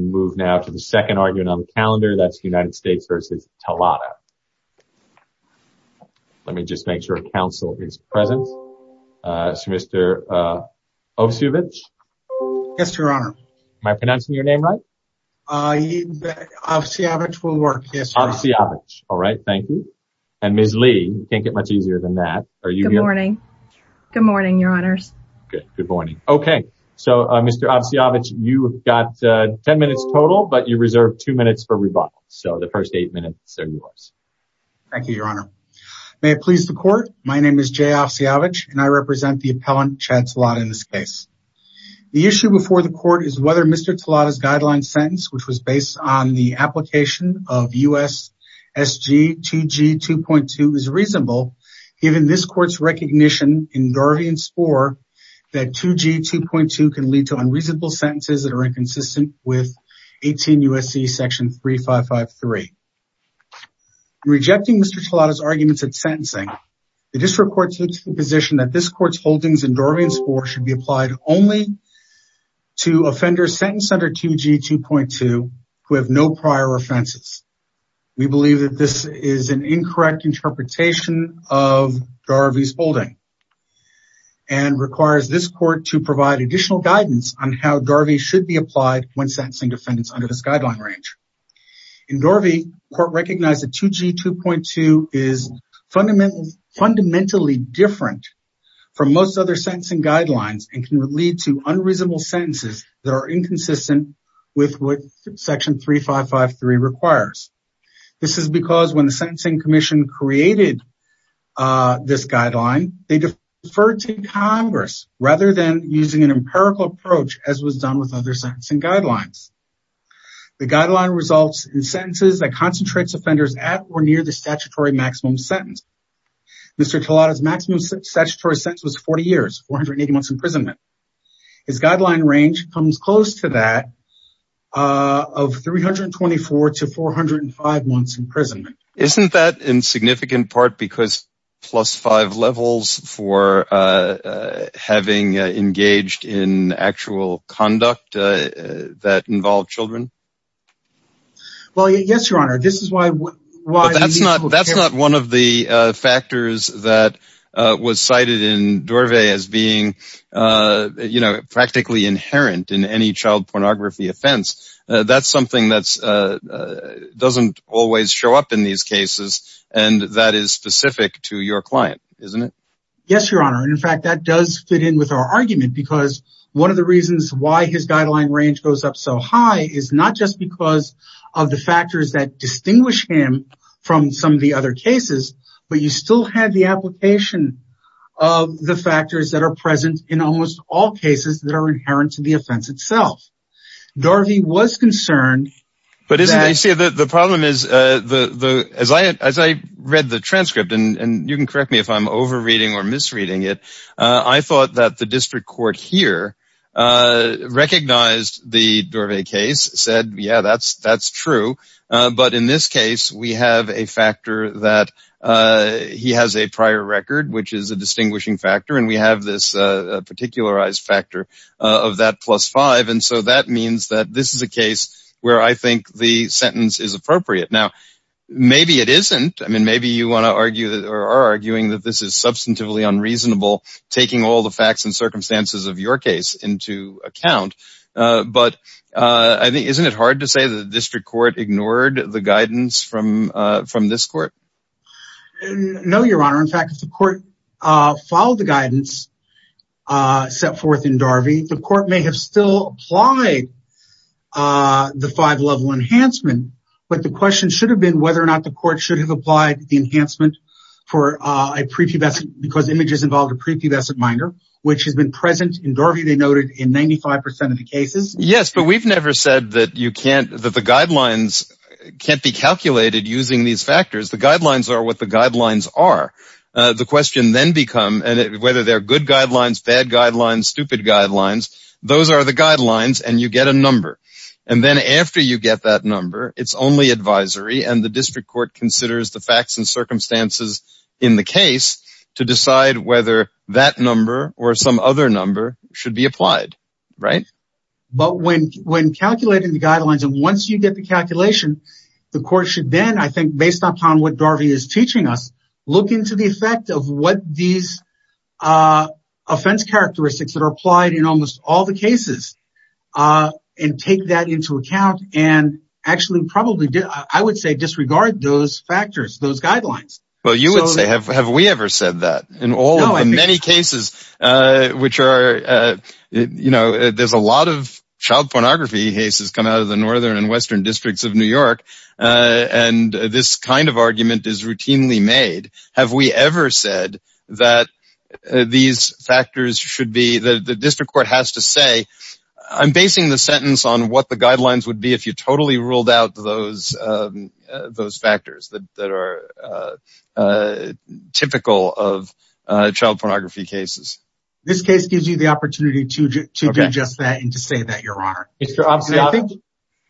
move now to the second argument on the calendar that's the United States versus Talada. Let me just make sure council is present. Mr. Ovsevich. Yes, your honor. Am I pronouncing your name right? Ovsevich will work, yes. Ovsevich, all right, thank you. And Ms. Lee, you can't get much easier than that. Good morning. Good morning, your honors. Good morning. Okay, so Mr. Ovsevich, you have got 10 minutes total, but you reserve two minutes for rebuttal. So the first eight minutes are yours. Thank you, your honor. May it please the court. My name is Jay Ovsevich and I represent the appellant Chad Talada in this case. The issue before the court is whether Mr. Talada's guideline sentence, which was based on the application of USSG 2G 2.2 is can lead to unreasonable sentences that are inconsistent with 18 U.S.C. section 3553. Rejecting Mr. Talada's arguments at sentencing, the district court takes the position that this court's holdings in Dorovian score should be applied only to offenders sentenced under 2G 2.2 who have no prior offenses. We believe that this is an incorrect interpretation of Dorovian's guidelines and requires this court to provide additional guidance on how Dorovian should be applied when sentencing defendants under this guideline range. In Dorovian, the court recognized that 2G 2.2 is fundamentally different from most other sentencing guidelines and can lead to unreasonable sentences that are inconsistent with what section 3553 requires. This is because when deferred to Congress rather than using an empirical approach as was done with other sentencing guidelines. The guideline results in sentences that concentrates offenders at or near the statutory maximum sentence. Mr. Talada's maximum statutory sentence was 40 years, 480 months imprisonment. His guideline range comes close to that of 324 to 405 months imprisonment. Isn't that in significant part because plus five levels for having engaged in actual conduct that involve children? Well, yes, your honor. This is why why that's not that's not one of the factors that was cited in Dorvay as being, you know, practically inherent in any child pornography offense. That's something that's doesn't always show up in these cases. And that is specific to your client, isn't it? Yes, your honor. And in fact, that does fit in with our argument because one of the reasons why his guideline range goes up so high is not just because of the factors that distinguish him from some of the other cases, but you still have the application of the factors that are present in almost all cases that are inherent to the offense itself. Dorvay was concerned. But you see, the problem is the as I as I read the transcript and you can correct me if I'm over reading or misreading it. I thought that the district court here recognized the Dorvay case said, yeah, that's that's true. But in this case, we have a factor that he has a prior record, which is a distinguishing factor. And we have this factor of that plus five. And so that means that this is a case where I think the sentence is appropriate. Now, maybe it isn't. I mean, maybe you want to argue that are arguing that this is substantively unreasonable, taking all the facts and circumstances of your case into account. But I think isn't it hard to say the district court ignored the guidance from from this court? No, your honor. In fact, the court followed the guidance set forth in Darby. The court may have still applied the five level enhancement. But the question should have been whether or not the court should have applied the enhancement for a prepubescent because images involved a prepubescent minor, which has been present in Darby. They noted in 95 percent of the cases. Yes, but we've never said that you can't that the guidelines can't be calculated using these factors. The guidelines are what the guidelines are. The question then become whether they're good guidelines, bad guidelines, stupid guidelines. Those are the guidelines. And you get a number. And then after you get that number, it's only advisory. And the district court considers the facts and circumstances in the case to decide whether that number or some other number should be applied. Right. But when when calculating the guidelines and once you get the calculation, the court should then, I think, based upon what Darby is teaching us, look into the effect of what these offense characteristics that are applied in almost all the cases and take that into account and actually probably, I would say, disregard those factors, those guidelines. Well, you would say, have we ever said that in all the many cases which are, you know, there's a lot of and this kind of argument is routinely made. Have we ever said that these factors should be the district court has to say, I'm basing the sentence on what the guidelines would be if you totally ruled out those those factors that are typical of child pornography cases. This case gives you the opportunity to do just that and to say that your honor. I think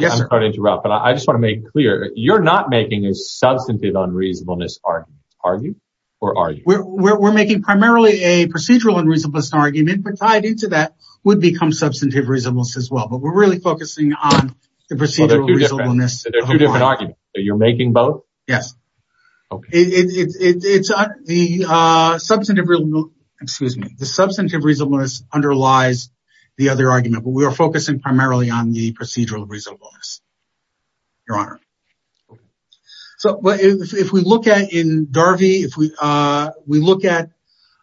I'm going to interrupt, but I just want to make clear. You're not making a substantive unreasonableness argument, are you? Or are you? We're making primarily a procedural and reasonableness argument, but tied into that would become substantive reasonableness as well. But we're really focusing on the procedural reasonableness. So there are two different arguments. You're making both? Yes. The substantive reasonableness underlies the other argument, but we are focusing primarily on the procedural reasonableness, your honor. So if we look at in Darvey, if we look at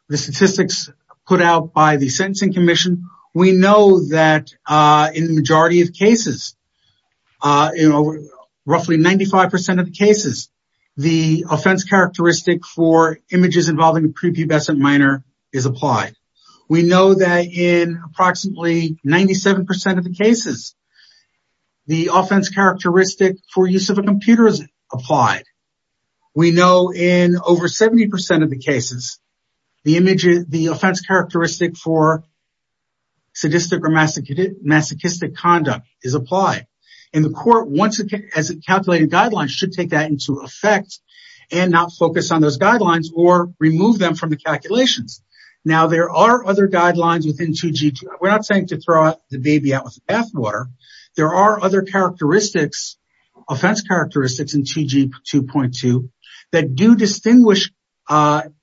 the statistics put out by the Sentencing Commission, we know that in the majority of cases, you know, roughly 95% of the cases, the offense characteristic for images involving a prepubescent minor is applied. We know that in approximately 97% of the cases, the offense characteristic for use of a computer is applied. We know in over 70% of the cases, the offense characteristic for sadistic or masochistic conduct is applied. And the court, once it has calculated guidelines, should take that into effect and not focus on those guidelines or remove them from the calculations. Now, there are other guidelines within 2G2. We're not saying to throw the baby out with the bathwater. There are other characteristics, offense characteristics in 2G2.2 that do distinguish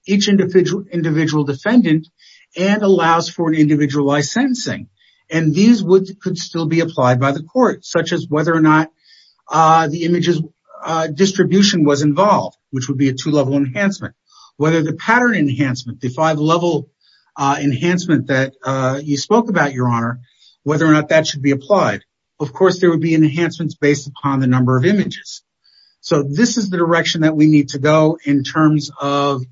each individual defendant and allows for an individualized sentencing. And these could still be applied by the court, such as whether or not the image's distribution was involved, which would be a two-level enhancement. Whether the pattern enhancement, the five-level enhancement that you spoke about, Your Honor, whether or not that should be applied. Of course, there would be enhancements based upon the number of images. So this is the direction that we need to go in terms of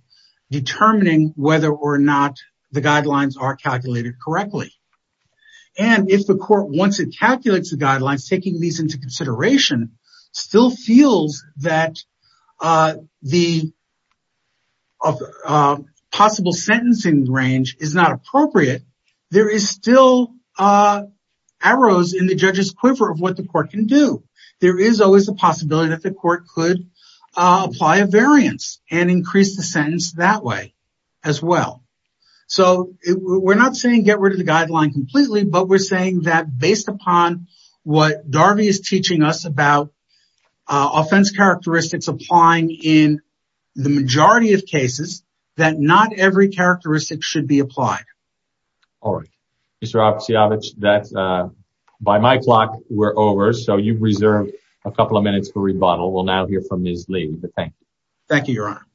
determining whether or not the guidelines are calculated correctly. And if the court, once it calculates the guidelines, taking these into consideration, still feels that the possible sentencing range is not appropriate, there is still arrows in the judge's quiver of what the court can do. There is always a possibility that the court could apply a variance and increase the sentence that way as well. So we're not saying get rid of the guideline completely, but we're saying that based upon what Darvey is teaching us about offense characteristics applying in the majority of cases, that not every characteristic should be applied. All right. Mr. Oksiavich, by my clock, we're over. So you've reserved a couple of minutes for rebuttal. We'll now hear from Ms. Lee, but thank you. Thank you, Your Honor.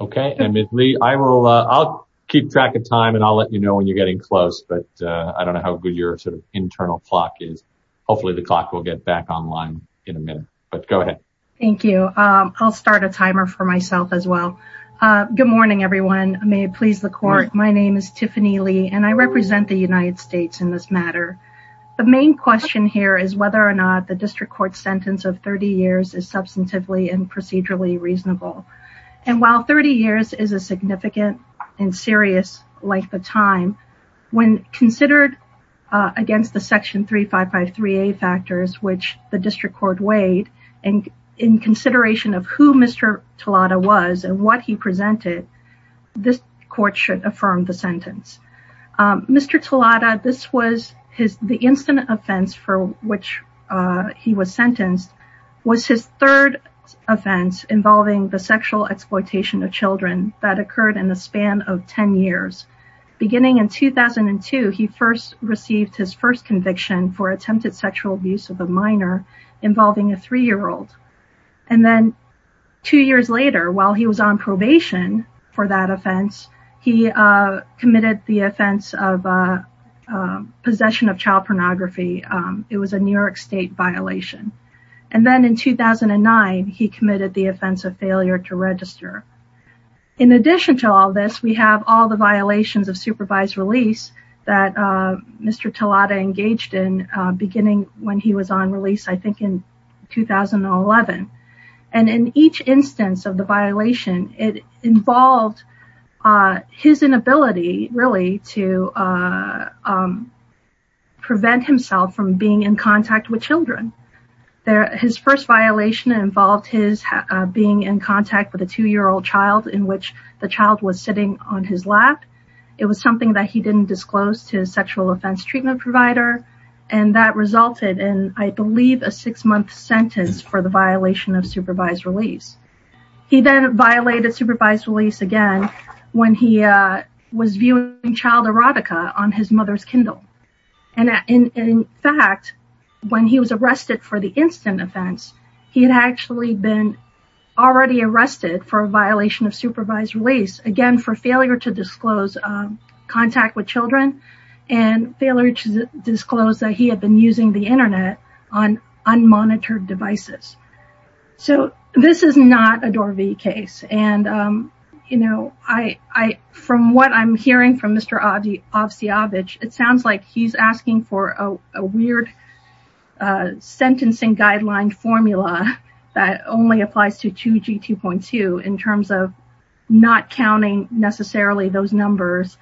Okay, and Ms. Lee, I'll keep track of time and I'll let you know when you're getting close, but I don't know how good your sort of internal clock is. Hopefully, the clock will get back online in a minute, but go ahead. Thank you. I'll start a timer for myself as well. Good morning, everyone. May it please the court. My name is Tiffany Lee and I represent the United States in this matter. The main question here is whether or not the district court sentence of 30 years is substantively and procedurally reasonable. And while 30 years is a significant and serious length of time, when considered against the section 3553A factors, which the district court weighed, and in consideration of who Mr. Tolada was and what he presented, this court should affirm the sentence. Mr. Tolada, this was the incident offense for which he was sentenced was his third offense involving the sexual exploitation of children that occurred in the span of 10 years, beginning in 2002, he first received his first conviction for attempted sexual abuse of a minor involving a three-year-old. And then two years later, while he was on probation for that offense, he committed the offense of possession of child pornography. It was a New York state violation. And then in 2009, he committed the offense of failure to register. In addition to all this, we have all the violations of supervised release that Mr. Tolada engaged in beginning when he was on release, I think in 2011. And in each instance of the violation, it involved his inability really to prevent himself from being in contact with children. His first violation involved his being in contact with a two-year-old child in which the child was sitting on his lap. It was something that he didn't disclose to his sexual offense treatment provider. And that resulted in, I believe, a six-month sentence for the violation of supervised release. He then violated supervised release again when he was viewing child erotica on his mother's Kindle. And in fact, when he was arrested for a violation of supervised release, again, for failure to disclose contact with children and failure to disclose that he had been using the internet on unmonitored devices. So this is not a DOR-V case. And, you know, from what I'm hearing from Mr. Avciavich, it sounds like he's asking for a weird sentencing guideline formula that only applies to 2G2.2 in terms of not counting necessarily those numbers,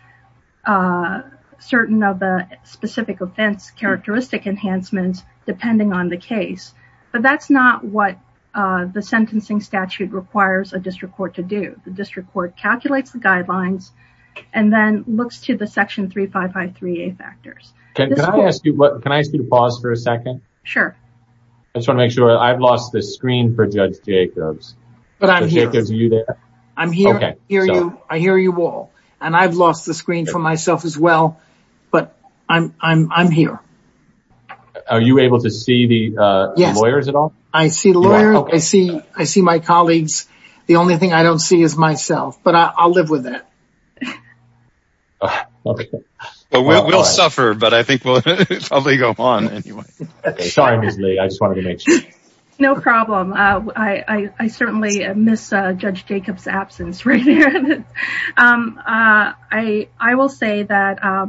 certain of the specific offense characteristic enhancements depending on the case. But that's not what the sentencing statute requires a district court to do. The district court calculates the guidelines and then looks to the section 3553A factors. Can I ask you to pause for a second? Sure. I just want to make sure I've lost the screen for Judge Jacobs. But I'm here. Jacobs, are you there? I'm here. I hear you. I hear you all. And I've lost the screen for myself as well. But I'm here. Are you able to see the lawyers at all? I see the lawyer. I see I see my colleagues. The only thing I don't see is myself, but I'll live with that. We'll suffer, but I think we'll probably go on anyway. Sorry, I just wanted to make sure. No problem. I certainly miss Judge Jacobs absence right here. I will say that,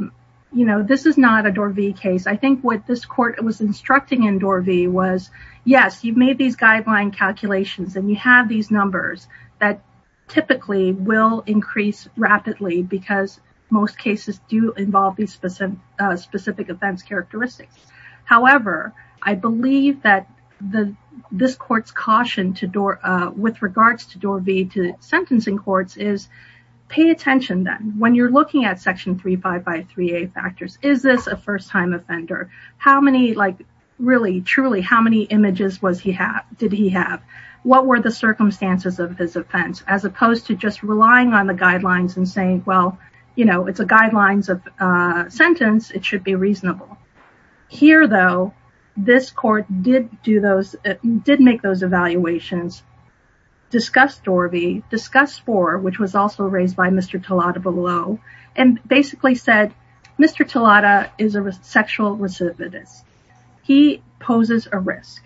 you know, this is not a DOR V case. I think what this court was instructing in DOR V was, yes, you've made these guideline calculations and you have these numbers that typically will increase rapidly because most cases do involve these specific offense characteristics. However, I believe that this court's caution with regards to DOR V to sentencing courts is pay attention then when you're looking at Section 35 by 3A factors. Is this a first time offender? How many like really truly how many images was he have? Did he have? What were the circumstances of his offense as opposed to just relying on the guidelines and saying, well, you know, it's a guidelines of sentence. It should be reasonable. Here, though, this court did do those did make those evaluations, discussed DOR V, discussed 4, which was also raised by Mr. Tolada below, and basically said, Mr. Tolada is a sexual recidivist. He poses a risk.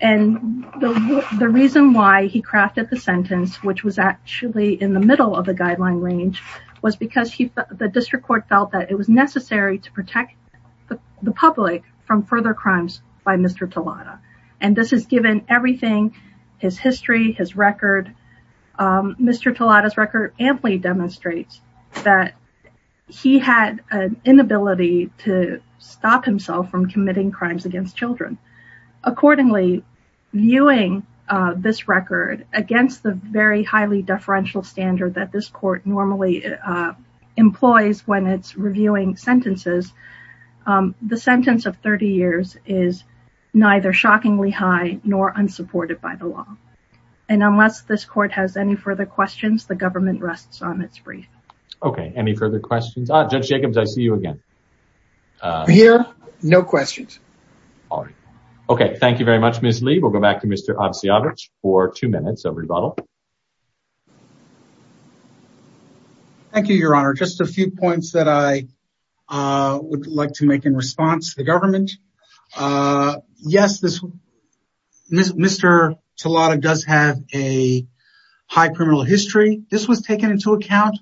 And the reason why he crafted the sentence, which was actually in the middle of the guideline range, was because the district court felt that it was necessary to protect the public from further crimes by Mr. Tolada. And this is given everything, his history, his record. Mr. Tolada's record amply demonstrates that he had an inability to stop himself from committing crimes against children. Accordingly, viewing this record against the very highly deferential standard that this court normally employs when it's reviewing sentences, the sentence of 30 years is neither shockingly high nor unsupported by the law. And unless this court has any further questions, the government rests on its brief. Okay. Any further questions? Judge Jacobs, I see you again. Here. No questions. All right. Okay. Thank you very much, Ms. Lee. We'll go back to Mr. Obstiavich for two minutes of rebuttal. Thank you, Your Honor. Just a few points that I would like to make in response to the government. Yes, Mr. Tolada does have a high criminal history. This was taken into account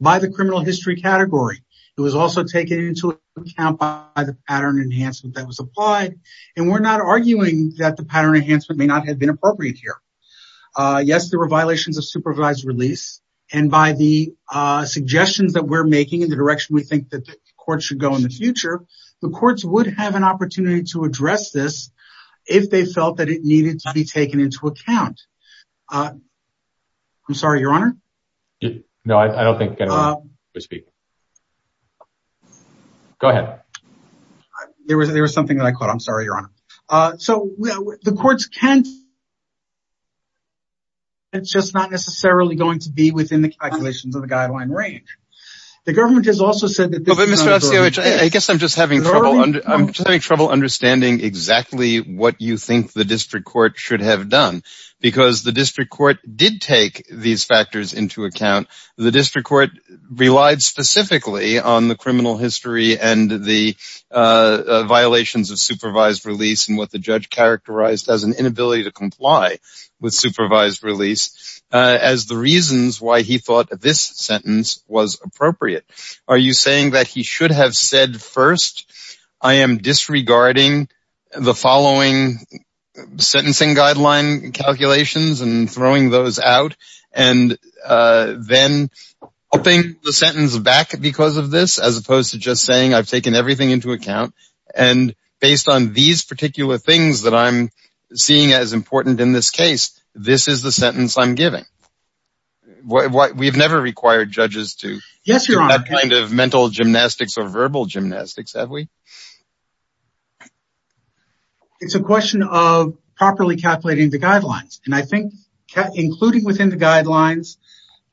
by the criminal history category. It was also taken into account by the pattern enhancement that was applied. And we're not arguing that the pattern enhancement may not have been appropriate here. Yes, there were violations of supervised release. And by the suggestions that we're making in the direction we think that the court should go in the future, the courts would have an opportunity to address this if they felt that it needed to be taken into account. I'm sorry, Your Honor? No, I don't think anyone would speak. Go ahead. There was something that I caught. I'm sorry, Your Honor. So the courts can... It's just not necessarily going to be within the calculations of the guideline range. The government has also said that... Mr. Obstiavich, I guess I'm just having trouble understanding exactly what you think the district court should have done. Because the district court did take these factors into account. The district court relied specifically on the criminal history and the violations of supervised release and what the judge characterized as an inability to comply with supervised release as the reasons why he thought this sentence was appropriate. Are you saying that he should have said first, I am disregarding the following sentencing guideline calculations and throwing those out and then upping the sentence back because of this, as opposed to just saying I've taken everything into account and based on these particular things that I'm seeing as important in this case, this is the sentence I'm giving? We've never required judges to do that kind of mental gymnastics or verbal gymnastics, have we? It's a question of properly calculating the guidelines. And I think, including within the guidelines,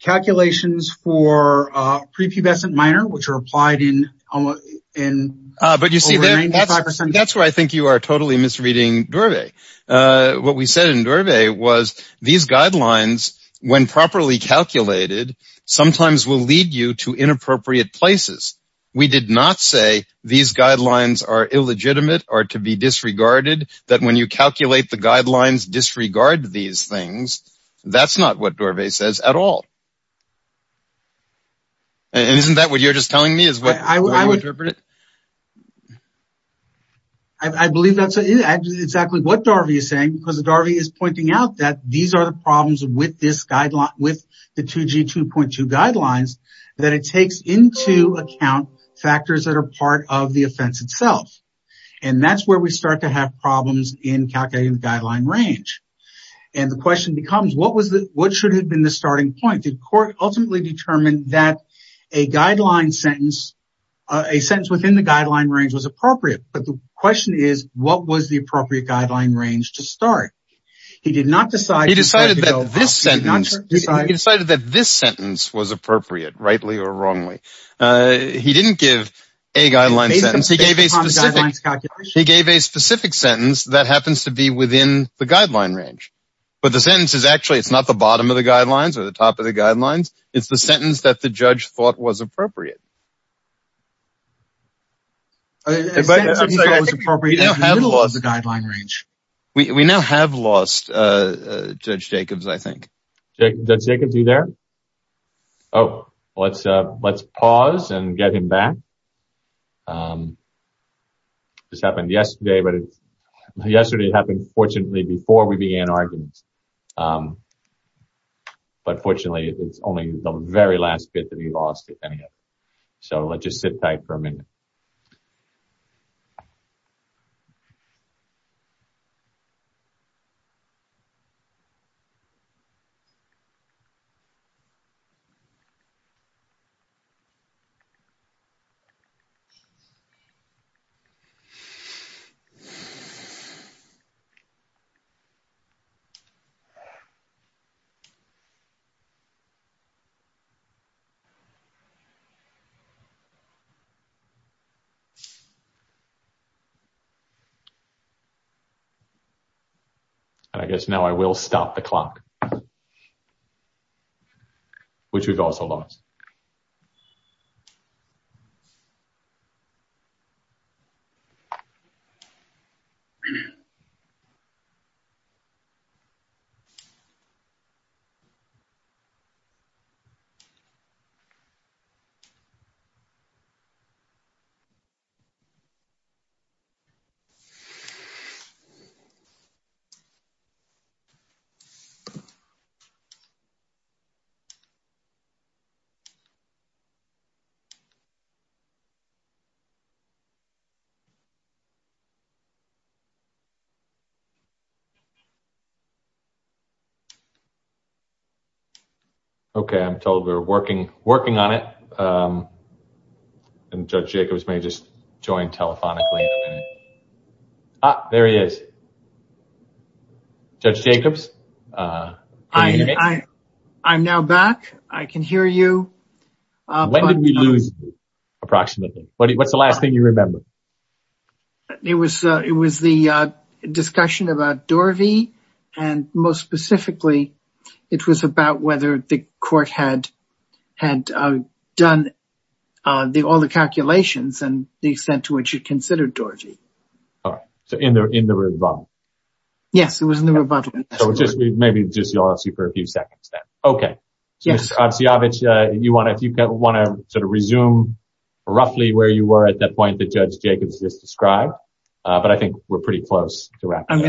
calculations for prepubescent minor, which are applied in... That's where I think you are totally misreading Dorvay. What we said in Dorvay was these guidelines, when properly calculated, sometimes will lead you to inappropriate places. We did not say these guidelines are illegitimate or to be disregarded these things. That's not what Dorvay says at all. Isn't that what you're just telling me? I believe that's exactly what Dorvay is saying, because Dorvay is pointing out that these are the problems with the 2G 2.2 guidelines that it takes into account factors that are part of the offense itself. And that's where we start to have problems in calculating the guideline range. And the question becomes, what should have been the starting point? Did Court ultimately determine that a guideline sentence, a sentence within the guideline range was appropriate? But the question is, what was the appropriate guideline range to start? He did not decide... He decided that this sentence was appropriate, rightly or wrongly. He didn't give a guideline calculation. He gave a specific sentence that happens to be within the guideline range. But the sentence is actually, it's not the bottom of the guidelines or the top of the guidelines. It's the sentence that the judge thought was appropriate. We now have lost Judge Jacobs, I think. Judge Jacobs, are you there? Oh, let's pause and get him back. This happened yesterday, but yesterday it happened, fortunately, before we began arguments. But fortunately, it's only the very last bit that he lost, if any. So let's just sit tight for a minute. So okay. I'm told we're working on it. And Judge Jacobs may just join telephonically in a minute. Ah, there he is. Judge Jacobs? I'm now back. I can hear you. When did we lose you, approximately? What's the last thing you remember? It was the discussion about Dorvey. And most specifically, it was about whether the court had done all the calculations and the extent to which you considered Dorvey. All right. So in the rebuttal? Yes, it was in the rebuttal. Maybe just you'll ask you for a few seconds then. Okay. So, Mr. Kociovic, if you want to sort of but I think we're pretty close to wrapping up. I'm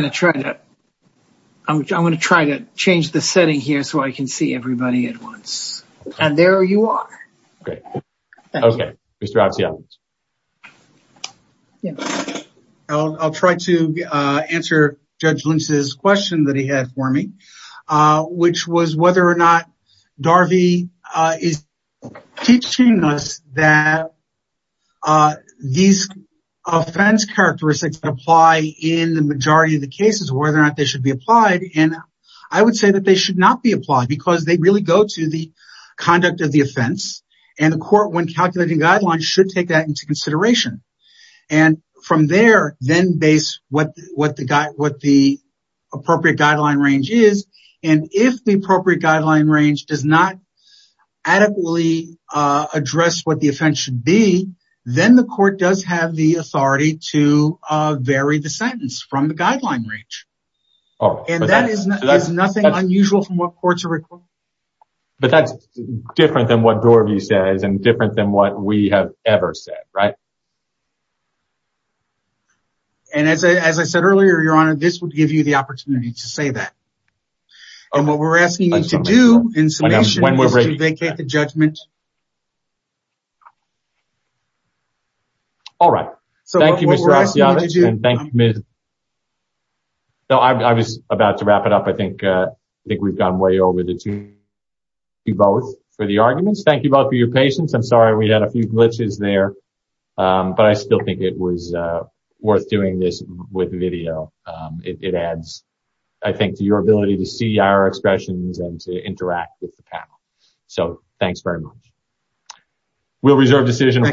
going to try to change the setting here so I can see everybody at once. And there you are. Great. Okay. Mr. Kociovic. I'll try to answer Judge Lynch's question that he had for me, which was whether or not Dorvey is teaching us that these offense characteristics apply in the majority of the cases, whether or not they should be applied. And I would say that they should not be applied because they really go to the conduct of the offense. And the court, when calculating guidelines, should take that into consideration. And from there, then base what the appropriate guideline range is. And if the appropriate guideline range does not adequately address what the offense should be, then the court does have the authority to vary the sentence from the guideline range. And that is nothing unusual from what courts are required. But that's different than what Dorvey says and different than what we have ever said, right? And as I said earlier, Your Honor, this would give you the opportunity to say that. And what we're asking you to do in summation is to vacate the judgment. All right. Thank you, Mr. Kociovic. So what we're asking you to do- And thank you, Ms. Lynch. No, I was about to wrap it up. I think we've gone way over the two minutes. Thank you both for the arguments. Thank you both for your patience. I'm sorry we had a few glitches there, but I still think it was worth doing this with video. It adds, I think, to your ability to see our expressions and to interact with the panel. So thanks very much. We'll reserve decision.